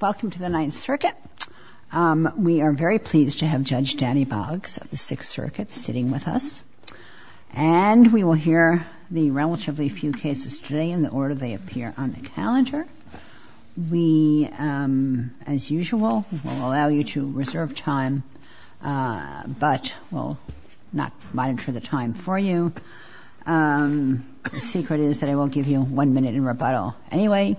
Welcome to the Ninth Circuit. We are very pleased to have Judge Danny Boggs of the Sixth Circuit sitting with us. And we will hear the relatively few cases today in the order they appear on the calendar. We, as usual, will allow you to reserve time, but will not monitor the time for you. The secret is that I will give you one minute in rebuttal anyway.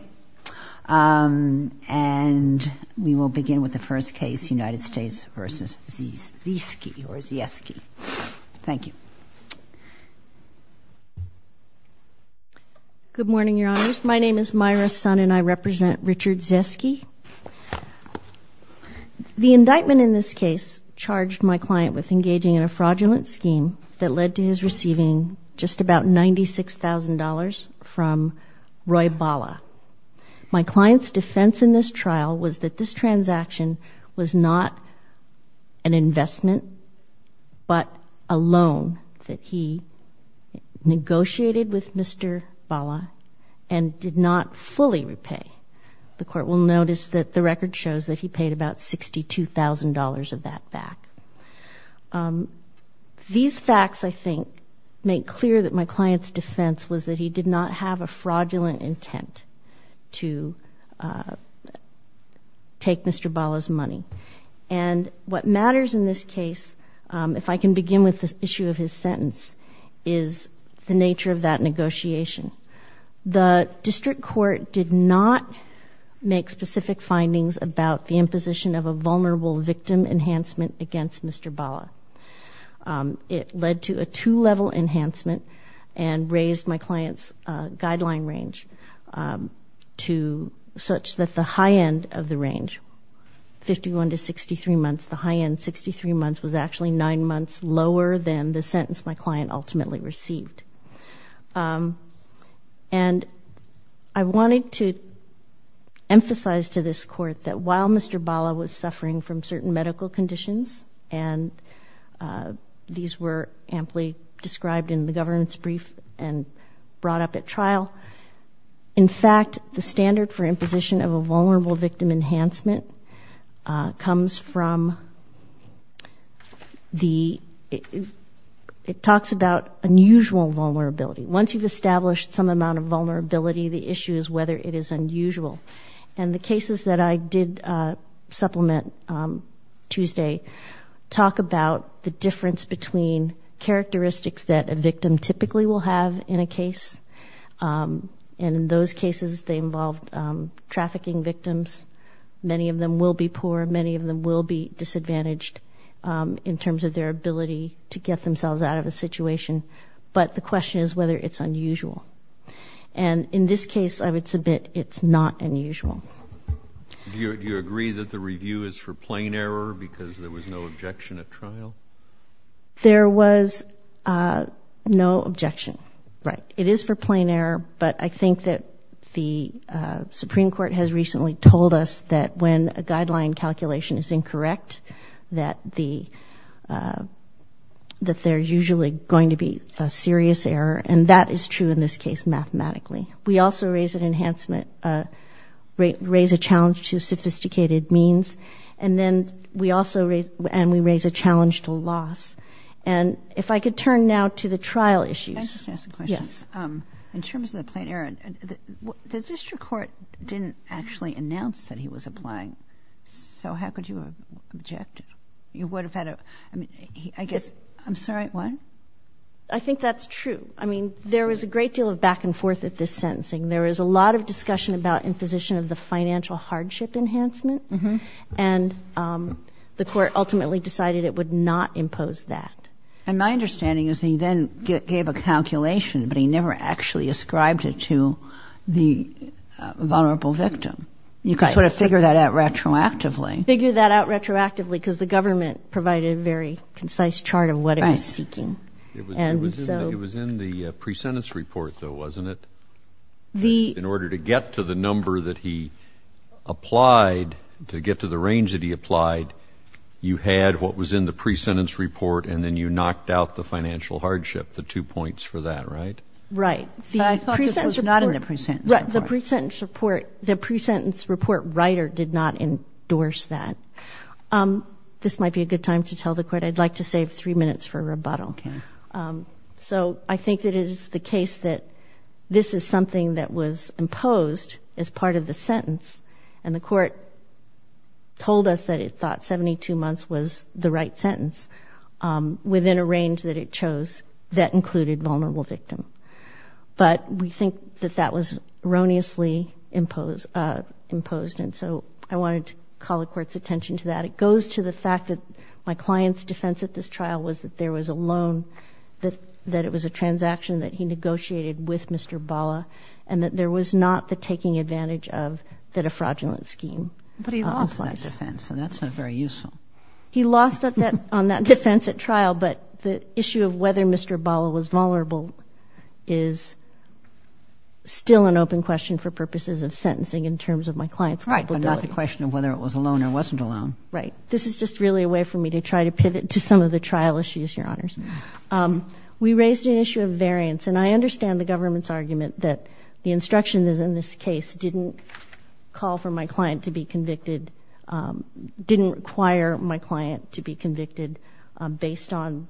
And we will begin with the first case, United States v. Zieske. Thank you. Good morning, Your Honors. My name is Myra Sun and I represent Richard Zieske. The indictment in this case charged my client with engaging in a fraudulent scheme that led to his receiving just about $96,000 from Roy Bala. My client's defense in this trial was that this transaction was not an investment, but a loan that he negotiated with Mr. Bala and did not fully repay. The Court will notice that the record shows that he paid about $62,000 of that back. These facts, I think, make clear that my client's defense was that he did not have a fraudulent intent to take Mr. Bala's money. And what matters in this case, if I can begin with the issue of his sentence, is the nature of that negotiation. The District Court did not make specific findings about the imposition of a vulnerable victim enhancement against Mr. Bala. It led to a two-level enhancement and raised my client's guideline range such that the high end of the range, 51 to 63 months, the high end, 63 months, was actually nine months lower than the sentence my client ultimately received. And I wanted to emphasize to this Court that while Mr. Bala was suffering from certain medical conditions, and these were amply described in the governance brief and brought up at trial, in fact, the standard for imposition of a vulnerable victim enhancement comes from the—it talks about unusual vulnerability. Once you've established some amount of vulnerability, the issue is whether it is unusual. And the cases that I did supplement Tuesday talk about the difference between characteristics that a victim typically will have in a case, and in those cases, they involved trafficking victims. Many of them will be poor. Many of them will be disadvantaged in terms of their ability to get themselves out of a situation. But the question is whether it's unusual. And in this case, I would submit it's not unusual. Do you agree that the review is for plain error because there was no objection at trial? There was no objection. Right. It is for plain error, but I think that the Supreme Court has recently told us that when a guideline calculation is incorrect, that the—that there's usually going to be a serious error, and that is true in this case mathematically. We also raise an enhancement—raise a challenge to sophisticated means, and then we also raise—and we raise a challenge to loss. And if I could turn now to the trial issues. Can I just ask a question? Yes. In terms of the plain error, the district court didn't actually announce that he was applying, so how could you have objected? You would have had a—I mean, I guess—I'm sorry, what? I think that's true. I mean, there was a great deal of back and forth at this sentencing. There was a lot of discussion about imposition of the financial hardship enhancement, and the court ultimately decided it would not impose that. And my understanding is he then gave a calculation, but he never actually ascribed it to the vulnerable victim. You could sort of figure that out retroactively. Figure that out retroactively because the government provided a very concise chart of what it was seeking. It was in the pre-sentence report, though, wasn't it? In order to get to the number that he applied, to get to the range that he applied, you had what was in the pre-sentence report, and then you knocked out the financial hardship, the two points for that, right? Right. I thought this was not in the pre-sentence report. Right. The pre-sentence report—the pre-sentence report writer did not endorse that. This might be a good time to tell the court I'd like to save three minutes for rebuttal. Okay. So I think that it is the case that this is something that was imposed as part of the sentence, and the court told us that it thought 72 months was the right sentence within a range that it chose that included vulnerable victim. But we think that that was erroneously imposed, and so I wanted to call the court's attention to that. It goes to the fact that my client's defense at this trial was that there was a loan, that it was a transaction that he negotiated with Mr. Bala, and that there was not the taking advantage of the defraudulent scheme. But he lost that defense, and that's not very useful. He lost on that defense at trial, but the issue of whether Mr. Bala was vulnerable is still an open question for purposes of sentencing in terms of my client's culpability. Right, but not the question of whether it was a loan or wasn't a loan. Right. This is just really a way for me to try to pivot to some of the trial issues, Your Honors. We raised an issue of variance, and I understand the government's argument that the instructions in this case didn't call for my client to be convicted, didn't require my client to be convicted based on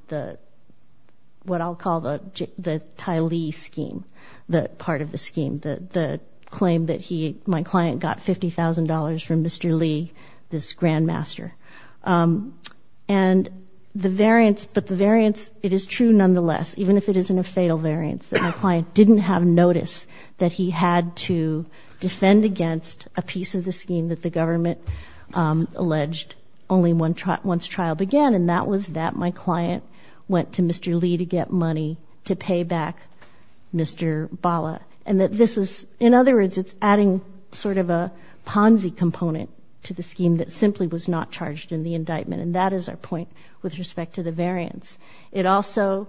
what I'll call the Ty Lee scheme, the part of the scheme, the claim that my client got $50,000 from Mr. Lee, this grandmaster. And the variance, but the variance, it is true nonetheless, even if it isn't a fatal variance, that my client didn't have notice that he had to defend against a piece of the scheme that the government alleged only once trial began, and that was that my client went to Mr. Lee to get money to pay back Mr. Bala. And that this is, in other words, it's adding sort of a Ponzi component to the scheme that simply was not charged in the indictment, and that is our point with respect to the variance. It also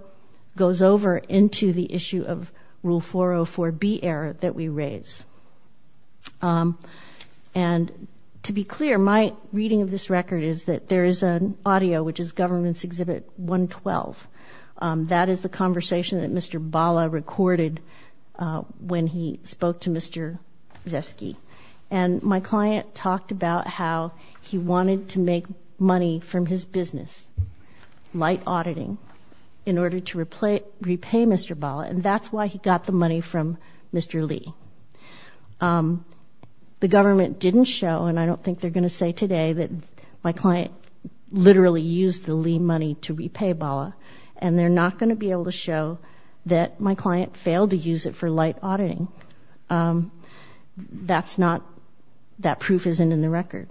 goes over into the issue of Rule 404B error that we raised. And to be clear, my reading of this record is that there is an audio, which is Government's Exhibit 112. That is the conversation that Mr. Bala recorded when he spoke to Mr. Zesky. And my client talked about how he wanted to make money from his business, light auditing, in order to repay Mr. Bala, and that's why he got the money from Mr. Lee. The government didn't show, and I don't think they're going to say today, that my client literally used the Lee money to repay Bala, and they're not going to be able to show that my client failed to use it for light auditing. That's not, that proof isn't in the record.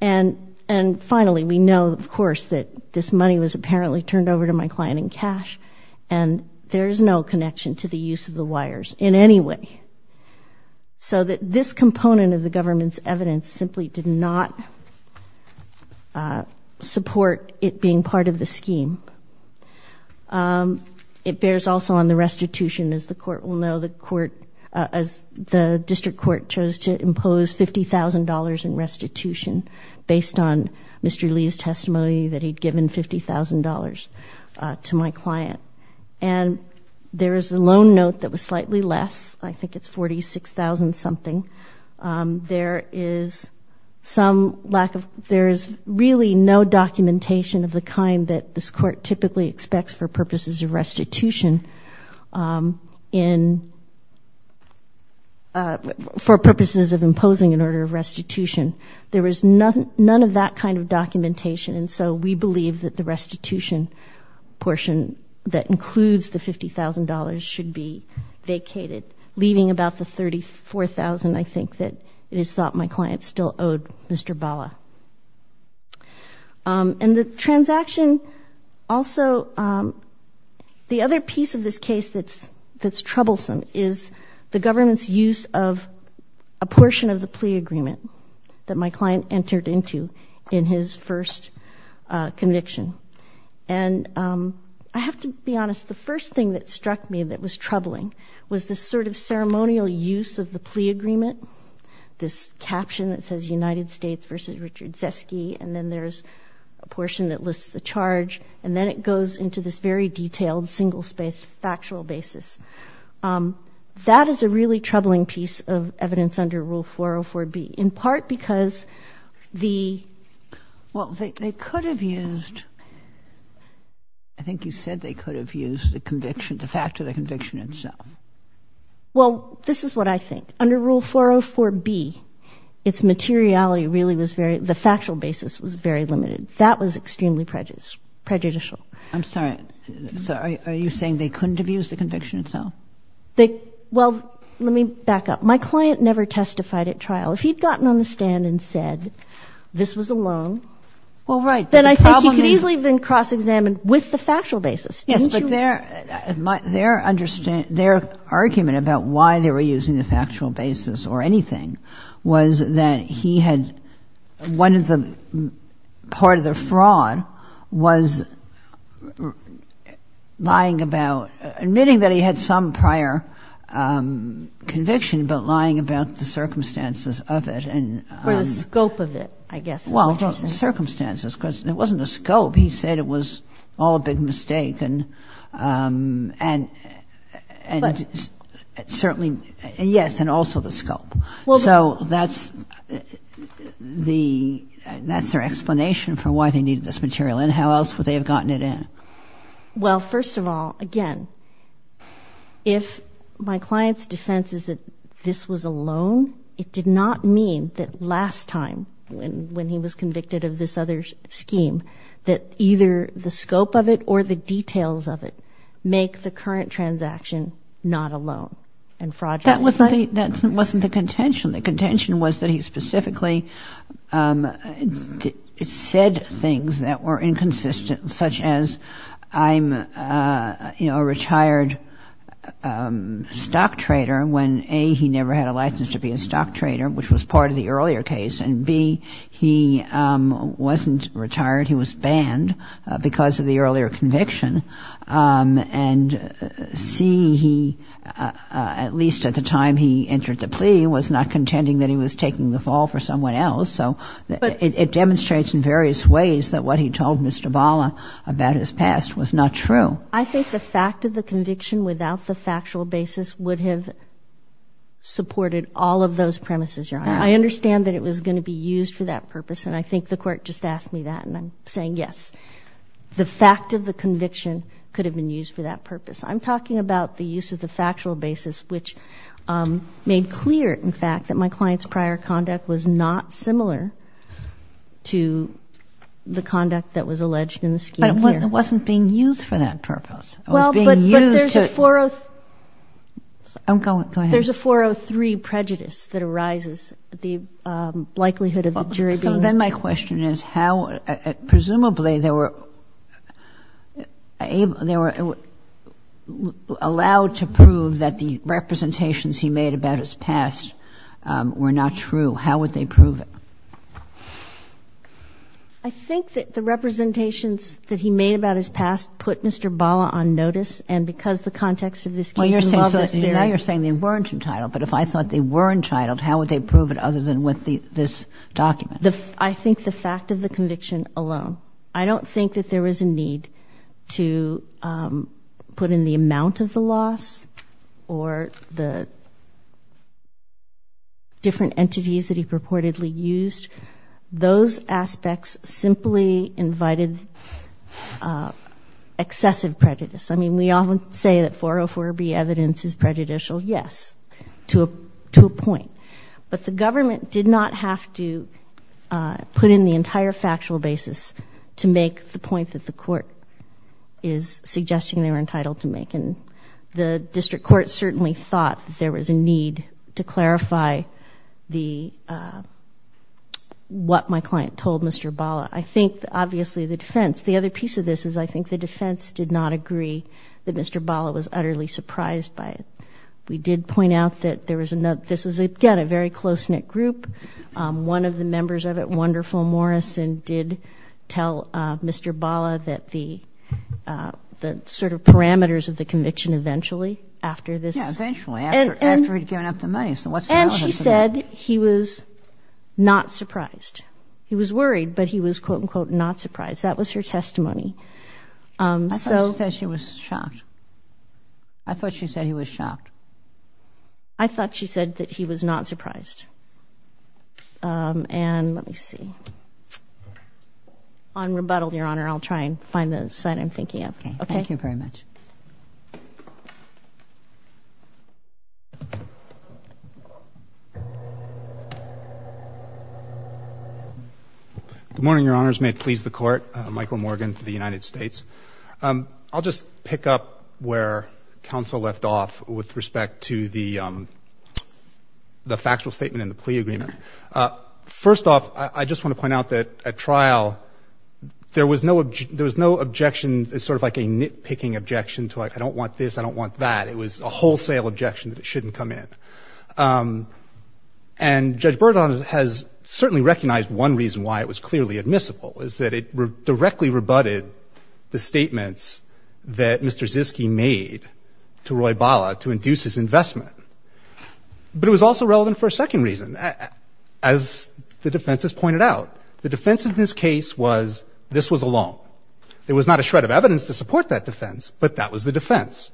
And finally, we know, of course, that this money was apparently turned over to my client in cash, and there is no connection to the use of the wires in any way. So that this component of the government's evidence simply did not support it being part of the scheme. It bears also on the restitution. As the court will know, the district court chose to impose $50,000 in restitution based on Mr. Lee's testimony that he'd given $50,000 to my client. And there is a loan note that was slightly less. I think it's $46,000 something. There is some lack of, there is really no documentation of the kind that this court typically expects for purposes of restitution in, for purposes of imposing an order of restitution. There was none of that kind of documentation, and so we believe that the restitution portion that includes the $50,000 should be vacated, leaving about the $34,000, I think, that it is thought my client still owed Mr. Bala. And the transaction also, the other piece of this case that's troublesome is the government's use of a portion of the plea agreement that my client entered into in his first conviction. And I have to be honest. The first thing that struck me that was troubling was the sort of ceremonial use of the plea agreement, this caption that says United States v. Richard Zesky, and then there's a portion that lists the charge, and then it goes into this very detailed, single-spaced, factual basis. That is a really troubling piece of evidence under Rule 404B, in part because the— I think you said they could have used the conviction, the fact of the conviction itself. Well, this is what I think. Under Rule 404B, its materiality really was very—the factual basis was very limited. That was extremely prejudicial. I'm sorry. Are you saying they couldn't have used the conviction itself? They—well, let me back up. My client never testified at trial. If he had gotten on the stand and said this was a loan— Well, right. Then I think he could easily have been cross-examined with the factual basis, didn't you? Yes, but their argument about why they were using the factual basis or anything was that he had—one of the—part of the fraud was lying about— admitting that he had some prior conviction, but lying about the circumstances of it. Or the scope of it, I guess, is what you're saying. Circumstances, because it wasn't the scope. He said it was all a big mistake, and certainly—yes, and also the scope. So that's the—that's their explanation for why they needed this material. And how else would they have gotten it in? Well, first of all, again, if my client's defense is that this was a loan, it did not mean that last time, when he was convicted of this other scheme, that either the scope of it or the details of it make the current transaction not a loan and fraudulent. That wasn't the—that wasn't the contention. The contention was that he specifically said things that were inconsistent, such as, I'm, you know, a retired stock trader, when A, he never had a license to be a stock trader, which was part of the earlier case, and B, he wasn't retired, he was banned because of the earlier conviction, and C, he—at least at the time he entered the plea— was not contending that he was taking the fall for someone else. So it demonstrates in various ways that what he told Mr. Bala about his past was not true. I think the fact of the conviction without the factual basis would have supported all of those premises, Your Honor. I understand that it was going to be used for that purpose, and I think the Court just asked me that, and I'm saying yes. The fact of the conviction could have been used for that purpose. I'm talking about the use of the factual basis, which made clear, in fact, that my client's prior conduct was not similar to the conduct that was alleged in the scheme here. But it wasn't being used for that purpose. It was being used to— Well, but there's a 403— Go ahead. There's a 403 prejudice that arises, the likelihood of the jury being— made about his past were not true. How would they prove it? I think that the representations that he made about his past put Mr. Bala on notice, and because the context of this case involved this theory— Well, you're saying—now you're saying they weren't entitled. But if I thought they were entitled, how would they prove it other than with this document? I think the fact of the conviction alone. I don't think that there was a need to put in the amount of the loss or the different entities that he purportedly used. Those aspects simply invited excessive prejudice. I mean, we often say that 404B evidence is prejudicial. Yes, to a point. But the government did not have to put in the entire factual basis to make the point that the court is suggesting they were entitled to make. And the district court certainly thought that there was a need to clarify the— what my client told Mr. Bala. I think, obviously, the defense— the other piece of this is I think the defense did not agree that Mr. Bala was utterly surprised by it. We did point out that this was, again, a very close-knit group. One of the members of it, Wonderful Morrison, did tell Mr. Bala that the sort of parameters of the conviction eventually, after this— Yes, eventually, after he'd given up the money. And she said he was not surprised. He was worried, but he was, quote, unquote, not surprised. That was her testimony. I thought she said she was shocked. I thought she said he was shocked. I thought she said that he was not surprised. And let me see. On rebuttal, Your Honor, I'll try and find the side I'm thinking of. Okay. Thank you very much. Good morning, Your Honors. May it please the Court. Michael Morgan for the United States. I'll just pick up where counsel left off with respect to the factual statement and the plea agreement. First off, I just want to point out that at trial, there was no objection. It was sort of like a nitpicking objection to, like, I don't want this, I don't want that. It was a wholesale objection that it shouldn't come in. And Judge Berdon has certainly recognized one reason why it was clearly admissible, is that it directly rebutted the statements that Mr. Ziske made to Roy Bala to induce his investment. But it was also relevant for a second reason. As the defense has pointed out, the defense in this case was this was a loan. There was not a shred of evidence to support that defense, but that was the defense.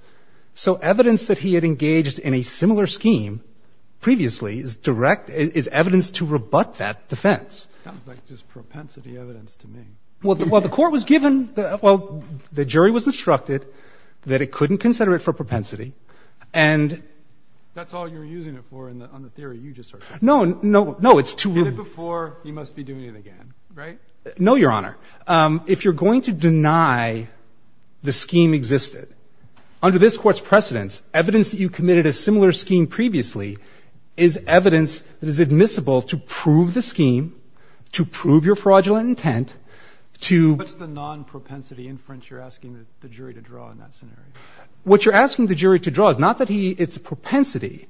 So evidence that he had engaged in a similar scheme previously is direct, is evidence to rebut that defense. It sounds like just propensity evidence to me. Well, the Court was given, well, the jury was instructed that it couldn't consider it for propensity. And that's all you're using it for on the theory you just heard. No, no, no. It's too early. You did it before. You must be doing it again, right? No, Your Honor. If you're going to deny the scheme existed, under this Court's precedence, evidence that you committed a similar scheme previously is evidence that is admissible to prove the scheme, to prove your fraudulent intent, to ---- What's the non-propensity inference you're asking the jury to draw in that scenario? What you're asking the jury to draw is not that he ---- it's propensity.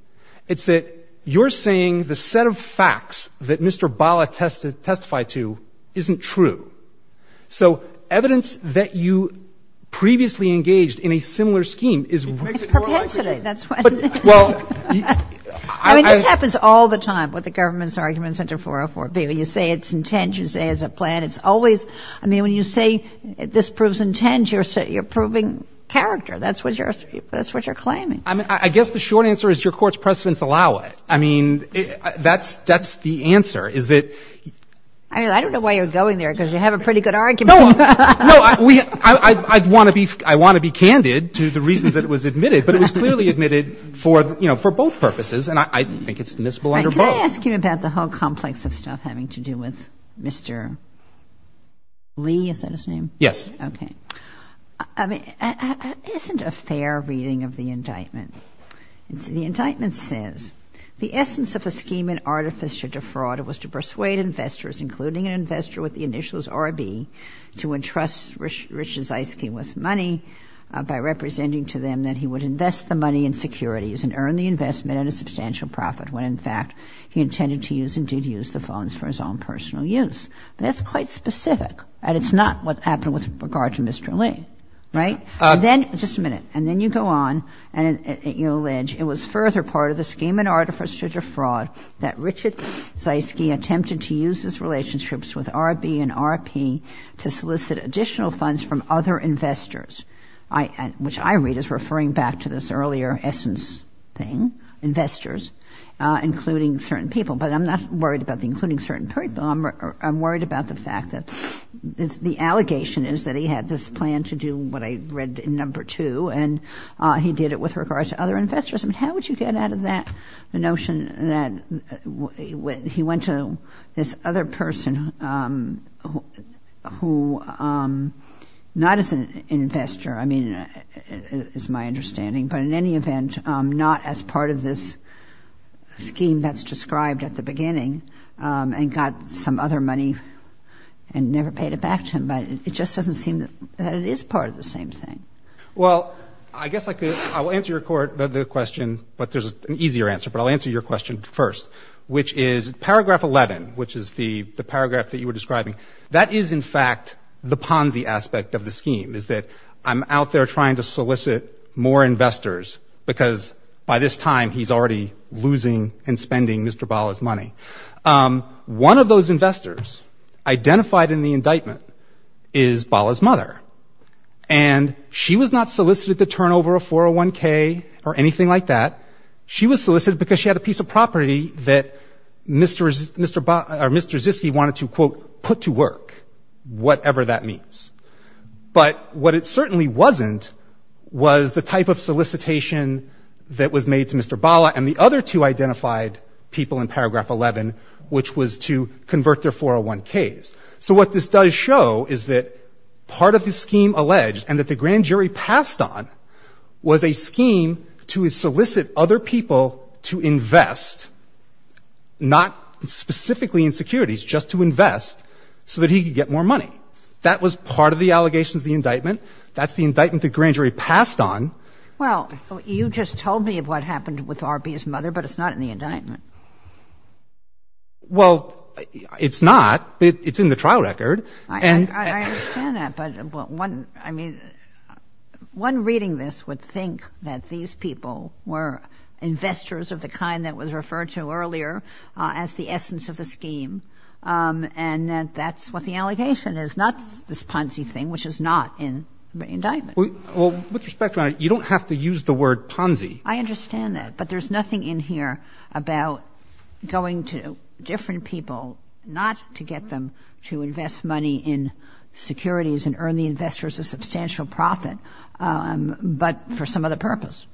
It's that you're saying the set of facts that Mr. Bala testified to isn't true. So evidence that you previously engaged in a similar scheme is ---- It's propensity. That's what it is. Well, I ---- I mean, this happens all the time with the government's arguments under 404B. You say it's intent. You say it's a plan. It's always ---- I mean, when you say this proves intent, you're proving character. That's what you're ---- that's what you're claiming. I mean, I guess the short answer is your Court's precedence allow it. I mean, that's the answer, is that ---- I mean, I don't know why you're going there, because you have a pretty good argument. No. No. I want to be ---- I want to be candid to the reasons that it was admitted, but it was clearly admitted for, you know, for both purposes, and I think it's admissible under both. Can I ask you about the whole complex of stuff having to do with Mr. Lee? Is that his name? Yes. Okay. I mean, isn't a fair reading of the indictment? The indictment says, The essence of the scheme and artifice to defraud was to persuade investors, including an investor with the initials RB, to entrust Richard Zeisky with money by representing to them that he would invest the money in securities and earn the investment at a substantial profit, when in fact he intended to use and did use the funds for his own personal use. That's quite specific, and it's not what happened with regard to Mr. Lee. Right? Then ---- just a minute. And then you go on and you allege it was further part of the scheme and artifice to defraud that Richard Zeisky attempted to use his relationships with RB and RP to which I read as referring back to this earlier essence thing, investors, including certain people. But I'm not worried about including certain people. I'm worried about the fact that the allegation is that he had this plan to do what I read in number two, and he did it with regards to other investors. How would you get out of that, the notion that he went to this other person who not as an investor, I mean, is my understanding, but in any event not as part of this scheme that's described at the beginning and got some other money and never paid it back to him? But it just doesn't seem that it is part of the same thing. Well, I guess I could ---- I will answer your question, but there's an easier answer. But I'll answer your question first, which is paragraph 11, which is the paragraph that you were describing. That is, in fact, the Ponzi aspect of the scheme, is that I'm out there trying to solicit more investors because by this time he's already losing and spending Mr. Bala's money. One of those investors identified in the indictment is Bala's mother. And she was not solicited to turn over a 401K or anything like that. She was solicited because she had a piece of property that Mr. Ziske wanted to, quote, put to work, whatever that means. But what it certainly wasn't was the type of solicitation that was made to Mr. Bala, and the other two identified people in paragraph 11, which was to convert their 401Ks. So what this does show is that part of the scheme alleged and that the grand jury passed on was a scheme to solicit other people to invest, not specifically in securities, just to invest so that he could get more money. That was part of the allegations of the indictment. That's the indictment the grand jury passed on. Well, you just told me what happened with R.B.'s mother, but it's not in the indictment. Well, it's not, but it's in the trial record. I understand that, but one, I mean, one reading this would think that these people were investors of the kind that was referred to earlier as the essence of the scheme, and that that's what the allegation is, not this Ponzi thing, which is not in the indictment. Well, with respect, Your Honor, you don't have to use the word Ponzi. I understand that, but there's nothing in here about going to different people not to get them to invest money in securities and earn the investors a substantial profit, but for some other purpose,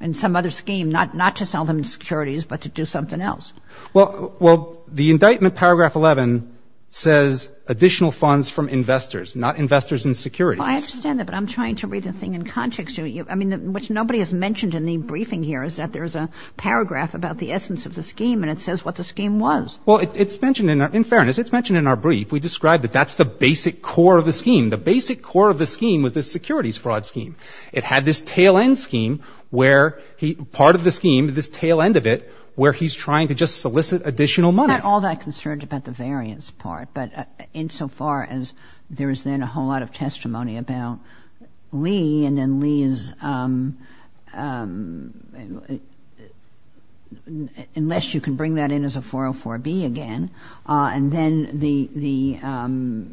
in some other scheme, not to sell them securities, but to do something else. Well, the indictment, paragraph 11, says additional funds from investors, not investors in securities. I understand that, but I'm trying to read the thing in context. I mean, what nobody has mentioned in the briefing here is that there's a paragraph about the essence of the scheme, and it says what the scheme was. Well, it's mentioned in our — in fairness, it's mentioned in our brief. We described that that's the basic core of the scheme. The basic core of the scheme was the securities fraud scheme. It had this tail-end scheme where he — part of the scheme, this tail-end of it, where he's trying to just solicit additional money. I'm not all that concerned about the variance part, but insofar as there is then a whole lot of testimony about Lee, and then Lee is — unless you can bring that in as a 404B again, and then the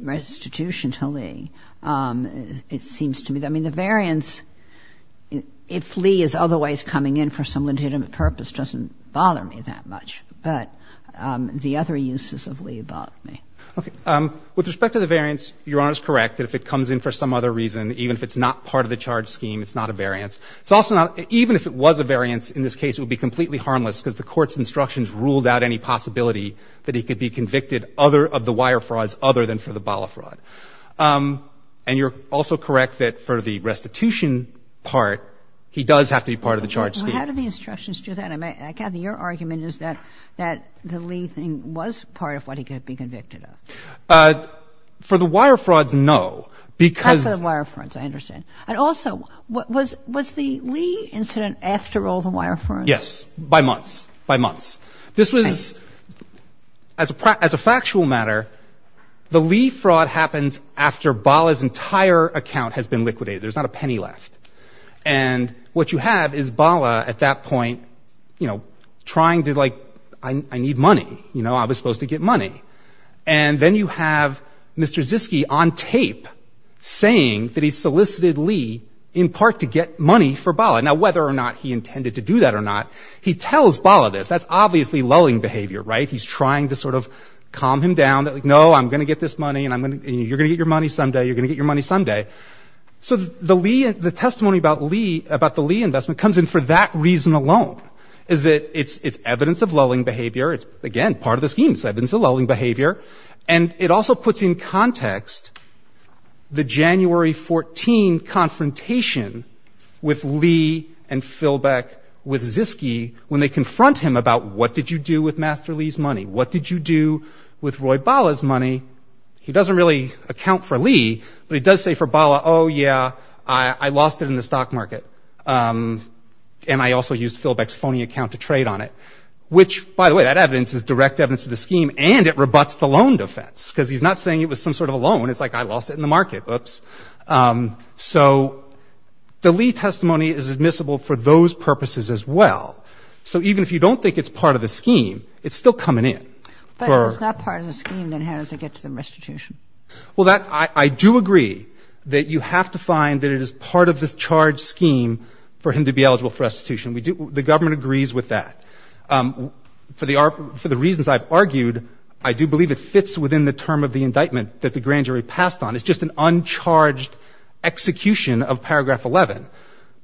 restitution to Lee, it seems to me — I mean, the variance, if Lee is otherwise coming in for some legitimate purpose, doesn't bother me that much. But the other uses of Lee bother me. Okay. With respect to the variance, Your Honor is correct that if it comes in for some other reason, even if it's not part of the charge scheme, it's not a variance. It's also not — even if it was a variance in this case, it would be completely harmless because the court's instructions ruled out any possibility that he could be convicted of the wire frauds other than for the bala fraud. And you're also correct that for the restitution part, he does have to be part of the charge scheme. Well, how do the instructions do that? Kathy, your argument is that the Lee thing was part of what he could be convicted of. For the wire frauds, no, because — Not for the wire frauds, I understand. And also, was the Lee incident after all the wire frauds? Yes. By months. By months. This was — as a factual matter, the Lee fraud happens after Bala's entire account has been liquidated. There's not a penny left. And what you have is Bala at that point trying to — like, I need money. I was supposed to get money. And then you have Mr. Ziske on tape saying that he solicited Lee in part to get money for Bala. Now, whether or not he intended to do that or not, he tells Bala this. That's obviously lulling behavior, right? He's trying to sort of calm him down. No, I'm going to get this money, and you're going to get your money someday. You're going to get your money someday. So the testimony about the Lee investment comes in for that reason alone, is that it's evidence of lulling behavior. It's, again, part of the scheme. It's evidence of lulling behavior. And it also puts in context the January 14 confrontation with Lee and Philbeck with Ziske when they confront him about what did you do with Master Lee's money? What did you do with Roy Bala's money? He doesn't really account for Lee, but he does say for Bala, oh, yeah, I lost it in the stock market, and I also used Philbeck's phony account to trade on it, which, by the way, that evidence is direct evidence of the scheme, and it rebutts the loan defense because he's not saying it was some sort of a loan. It's like, I lost it in the market. Oops. So the Lee testimony is admissible for those purposes as well. So even if you don't think it's part of the scheme, it's still coming in. But if it's not part of the scheme, then how does it get to the restitution? Well, I do agree that you have to find that it is part of the charge scheme for him to be eligible for restitution. The government agrees with that. For the reasons I've argued, I do believe it fits within the term of the indictment that the grand jury passed on. It's just an uncharged execution of paragraph 11.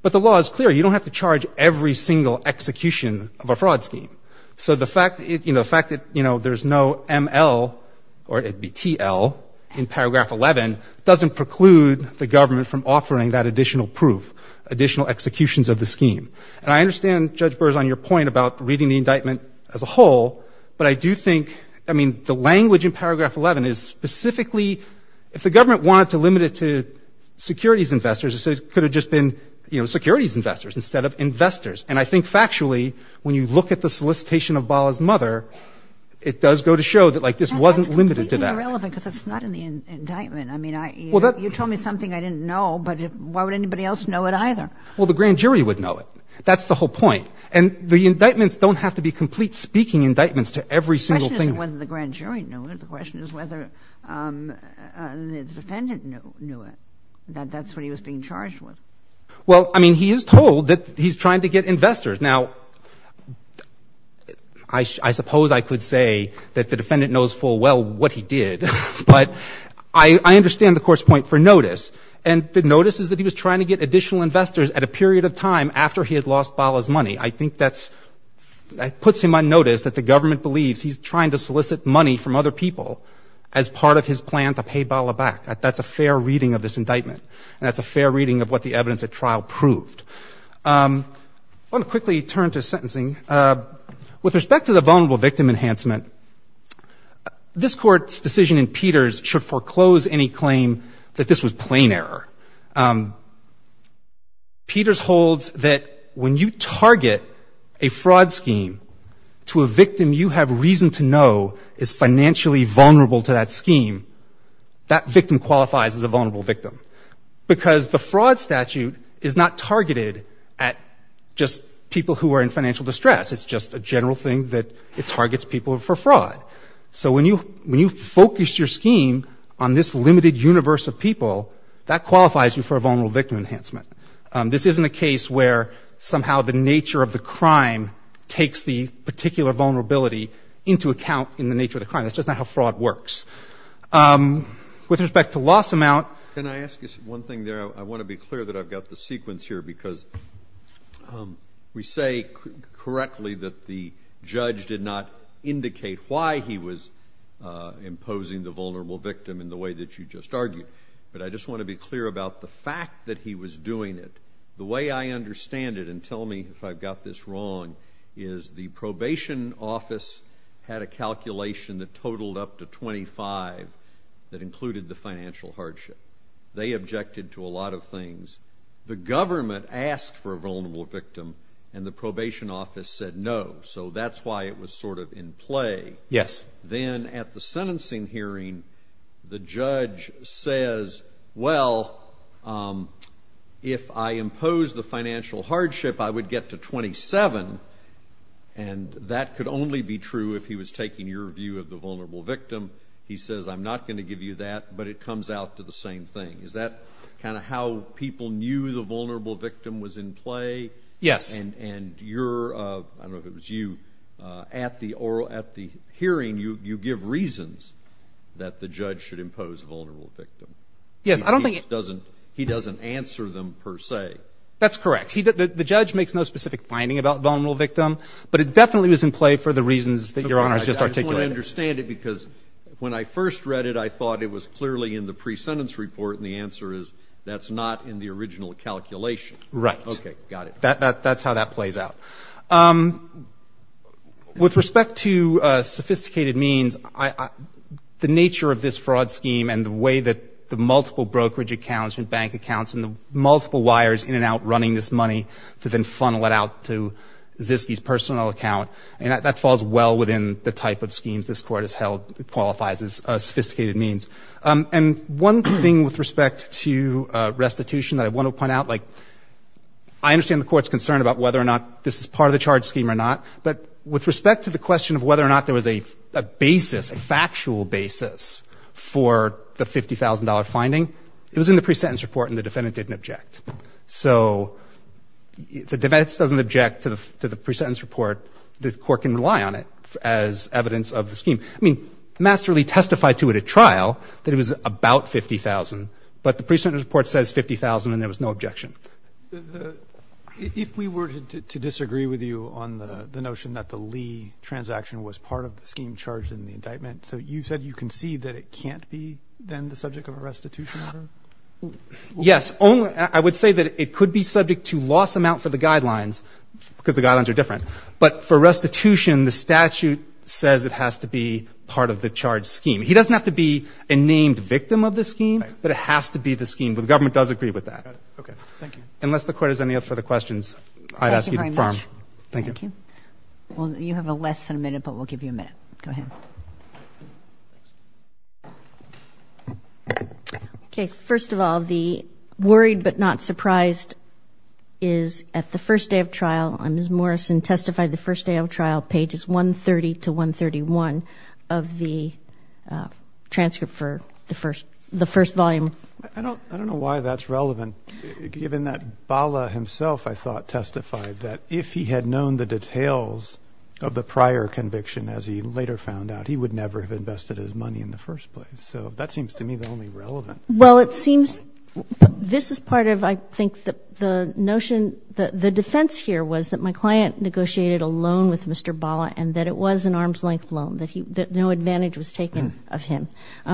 But the law is clear. You don't have to charge every single execution of a fraud scheme. So the fact, you know, the fact that, you know, there's no M.L. or it would be T.L. in paragraph 11 doesn't preclude the government from offering that additional proof, additional executions of the scheme. And I understand, Judge Burrs, on your point about reading the indictment as a whole, but I do think, I mean, the language in paragraph 11 is specifically, if the government wanted to limit it to securities investors, it could have just been, you know, securities investors instead of investors. And I think factually, when you look at the solicitation of Bala's mother, it does go to show that, like, this wasn't limited to that. Kagan. And that's completely irrelevant because it's not in the indictment. I mean, you told me something I didn't know, but why would anybody else know it either? Well, the grand jury would know it. That's the whole point. And the indictments don't have to be complete speaking indictments to every single thing. The question isn't whether the grand jury knew it. The question is whether the defendant knew it, that that's what he was being charged with. Well, I mean, he is told that he's trying to get investors. Now, I suppose I could say that the defendant knows full well what he did. But I understand the Court's point for notice. And the notice is that he was trying to get additional investors at a period of time after he had lost Bala's money. I think that puts him on notice that the government believes he's trying to solicit money from other people as part of his plan to pay Bala back. That's a fair reading of this indictment. And that's a fair reading of what the evidence at trial proved. I want to quickly turn to sentencing. With respect to the vulnerable victim enhancement, this Court's decision in Peters should foreclose any claim that this was plain error. Peters holds that when you target a fraud scheme to a victim you have reason to know is financially vulnerable to that scheme, that victim qualifies as a vulnerable victim. Because the fraud statute is not targeted at just people who are in financial distress. It's just a general thing that it targets people for fraud. So when you focus your scheme on this limited universe of people, that qualifies you for a vulnerable victim enhancement. This isn't a case where somehow the nature of the crime takes the particular vulnerability into account in the nature of the crime. That's just not how fraud works. With respect to loss amount, can I ask you one thing there? I want to be clear that I've got the sequence here because we say correctly that the judge did not indicate why he was imposing the vulnerable victim in the way that you just argued. But I just want to be clear about the fact that he was doing it. The way I understand it, and tell me if I've got this wrong, is the probation office had a calculation that totaled up to 25 that included the financial hardship. They objected to a lot of things. The government asked for a vulnerable victim, and the probation office said no. So that's why it was sort of in play. Yes. Then at the sentencing hearing, the judge says, well, if I impose the financial hardship, I would get to 27, and that could only be true if he was taking your view of the vulnerable victim. He says, I'm not going to give you that, but it comes out to the same thing. Is that kind of how people knew the vulnerable victim was in play? Yes. And you're, I don't know if it was you, at the hearing, you give reasons that the judge should impose vulnerable victim. Yes. I don't think he does. He doesn't answer them per se. That's correct. The judge makes no specific finding about the vulnerable victim, but it definitely was in play for the reasons that Your Honor has just articulated. I just want to understand it, because when I first read it, I thought it was clearly in the pre-sentence report, and the answer is that's not in the original calculation. Right. Okay. Got it. That's how that plays out. With respect to sophisticated means, the nature of this fraud scheme and the way that the multiple brokerage accounts and bank accounts and the multiple wires in and out running this money to then funnel it out to Ziske's personal account, that falls well within the type of schemes this Court has held qualifies as sophisticated means. And one thing with respect to restitution that I want to point out, like, I understand the Court's concern about whether or not this is part of the charge scheme or not, but with respect to the question of whether or not there was a basis, a factual basis, for the $50,000 finding, it was in the pre-sentence report and the defendant didn't object. So the defense doesn't object to the pre-sentence report. The Court can rely on it as evidence of the scheme. I mean, Master Lee testified to it at trial that it was about $50,000, but the pre-sentence report says $50,000 and there was no objection. If we were to disagree with you on the notion that the Lee transaction was part of the indictment, so you said you concede that it can't be then the subject of a restitution order? Yes. I would say that it could be subject to loss amount for the guidelines, because the guidelines are different. But for restitution, the statute says it has to be part of the charge scheme. He doesn't have to be a named victim of the scheme, but it has to be the scheme, but the government does agree with that. Got it. Thank you. Unless the Court has any further questions, I ask you to confirm. Thank you very much. Thank you. Thank you. Well, you have less than a minute, but we'll give you a minute. Go ahead. Okay. First of all, the worried but not surprised is at the first day of trial. Ms. Morrison testified the first day of trial, pages 130 to 131 of the transcript for the first volume. I don't know why that's relevant, given that Bala himself, I thought, testified that if he had known the details of the prior conviction, as he later found out, he would never have invested his money in the first place. So that seems to me the only relevant. Well, it seems this is part of, I think, the notion, the defense here was that my client negotiated a loan with Mr. Bala and that it was an arm's-length loan, that no advantage was taken of him.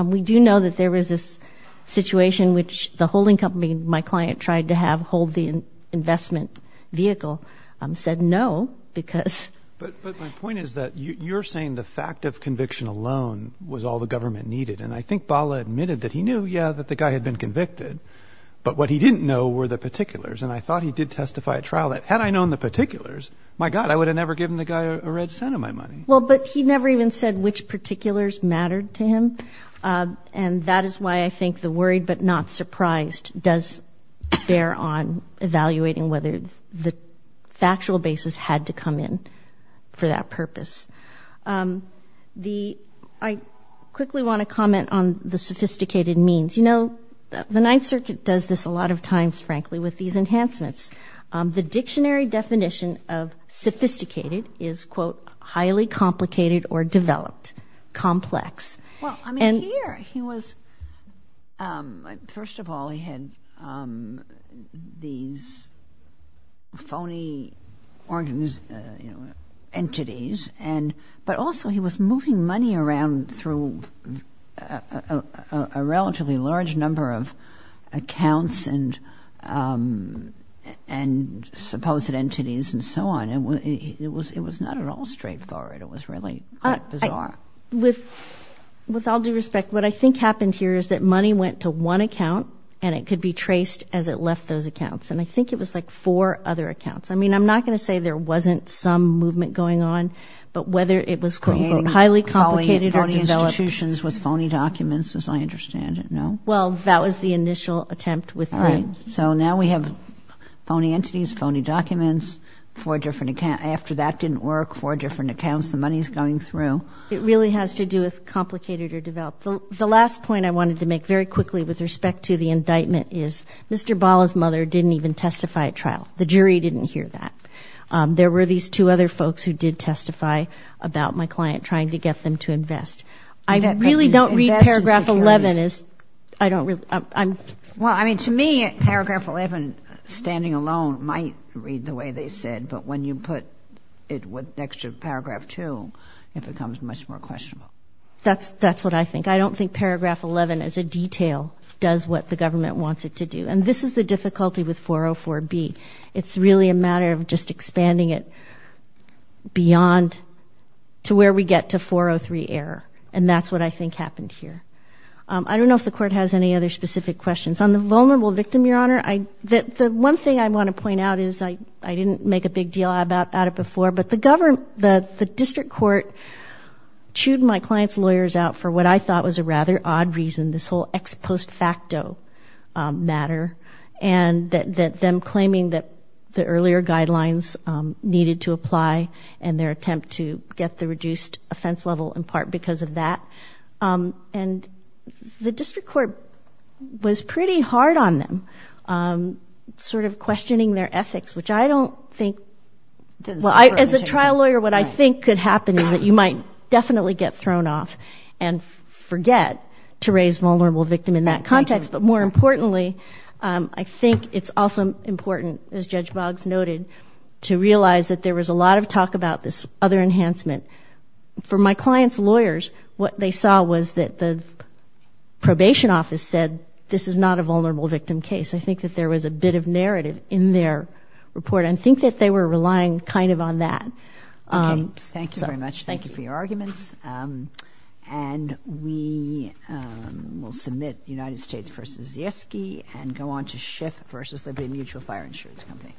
We do know that there was this situation which the holding company my client tried to have hold the investment vehicle, said no, because. But my point is that you're saying the fact of conviction alone was all the government needed. And I think Bala admitted that he knew, yeah, that the guy had been convicted, but what he didn't know were the particulars. And I thought he did testify at trial that had I known the particulars, my God, I would have never given the guy a red cent of my money. Well, but he never even said which particulars mattered to him. And that is why I think the worried but not surprised does bear on evaluating whether the factual basis had to come in for that purpose. I quickly want to comment on the sophisticated means. You know, the Ninth Circuit does this a lot of times, frankly, with these enhancements. The dictionary definition of sophisticated is, quote, highly complicated or developed, complex. Well, I mean, here he was, first of all, he had these phony entities, but also he was moving money around through a relatively large number of accounts and supposed entities and so on. It was not at all straightforward. It was really quite bizarre. With all due respect, what I think happened here is that money went to one account and it could be traced as it left those accounts. And I think it was like four other accounts. I mean, I'm not going to say there wasn't some movement going on, but whether it was quote, quote, highly complicated or developed. Creating phony institutions with phony documents, as I understand it, no? Well, that was the initial attempt with them. Right. So now we have phony entities, phony documents, four different accounts. After that didn't work, four different accounts, the money's going through. It really has to do with complicated or developed. The last point I wanted to make very quickly with respect to the indictment is Mr. Bala's mother didn't even testify at trial. The jury didn't hear that. There were these two other folks who did testify about my client trying to get them to invest. I really don't read paragraph 11 as, I don't really, I'm. Well, I mean, to me, paragraph 11 standing alone might read the way they said, but when you put it next to paragraph 2, it becomes much more questionable. That's what I think. I don't think paragraph 11 as a detail does what the government wants it to do. And this is the difficulty with 404B. It's really a matter of just expanding it beyond to where we get to 403 error. And that's what I think happened here. I don't know if the Court has any other specific questions. On the vulnerable victim, Your Honor, the one thing I want to point out is I didn't make a big deal about it before, but the district court chewed my client's lawyers out for what I thought was a rather odd reason, this whole ex post facto matter, and them claiming that the earlier guidelines needed to apply and their attempt to get the reduced offense level in part because of that. And the district court was pretty hard on them, sort of questioning their ethics, which I don't think, as a trial lawyer, what I think could happen is that you might definitely get thrown off and forget to raise vulnerable victim in that context. But more importantly, I think it's also important, as Judge Boggs noted, to realize that there was a lot of talk about this other enhancement. For my client's lawyers, what they saw was that the probation office said this is not a vulnerable victim case. I think that there was a bit of narrative in their report. I think that they were relying kind of on that. Okay. Thank you very much. Thank you for your arguments. And we will submit United States v. Zieske and go on to Schiff v. Liberty Mutual Fire Insurance Company.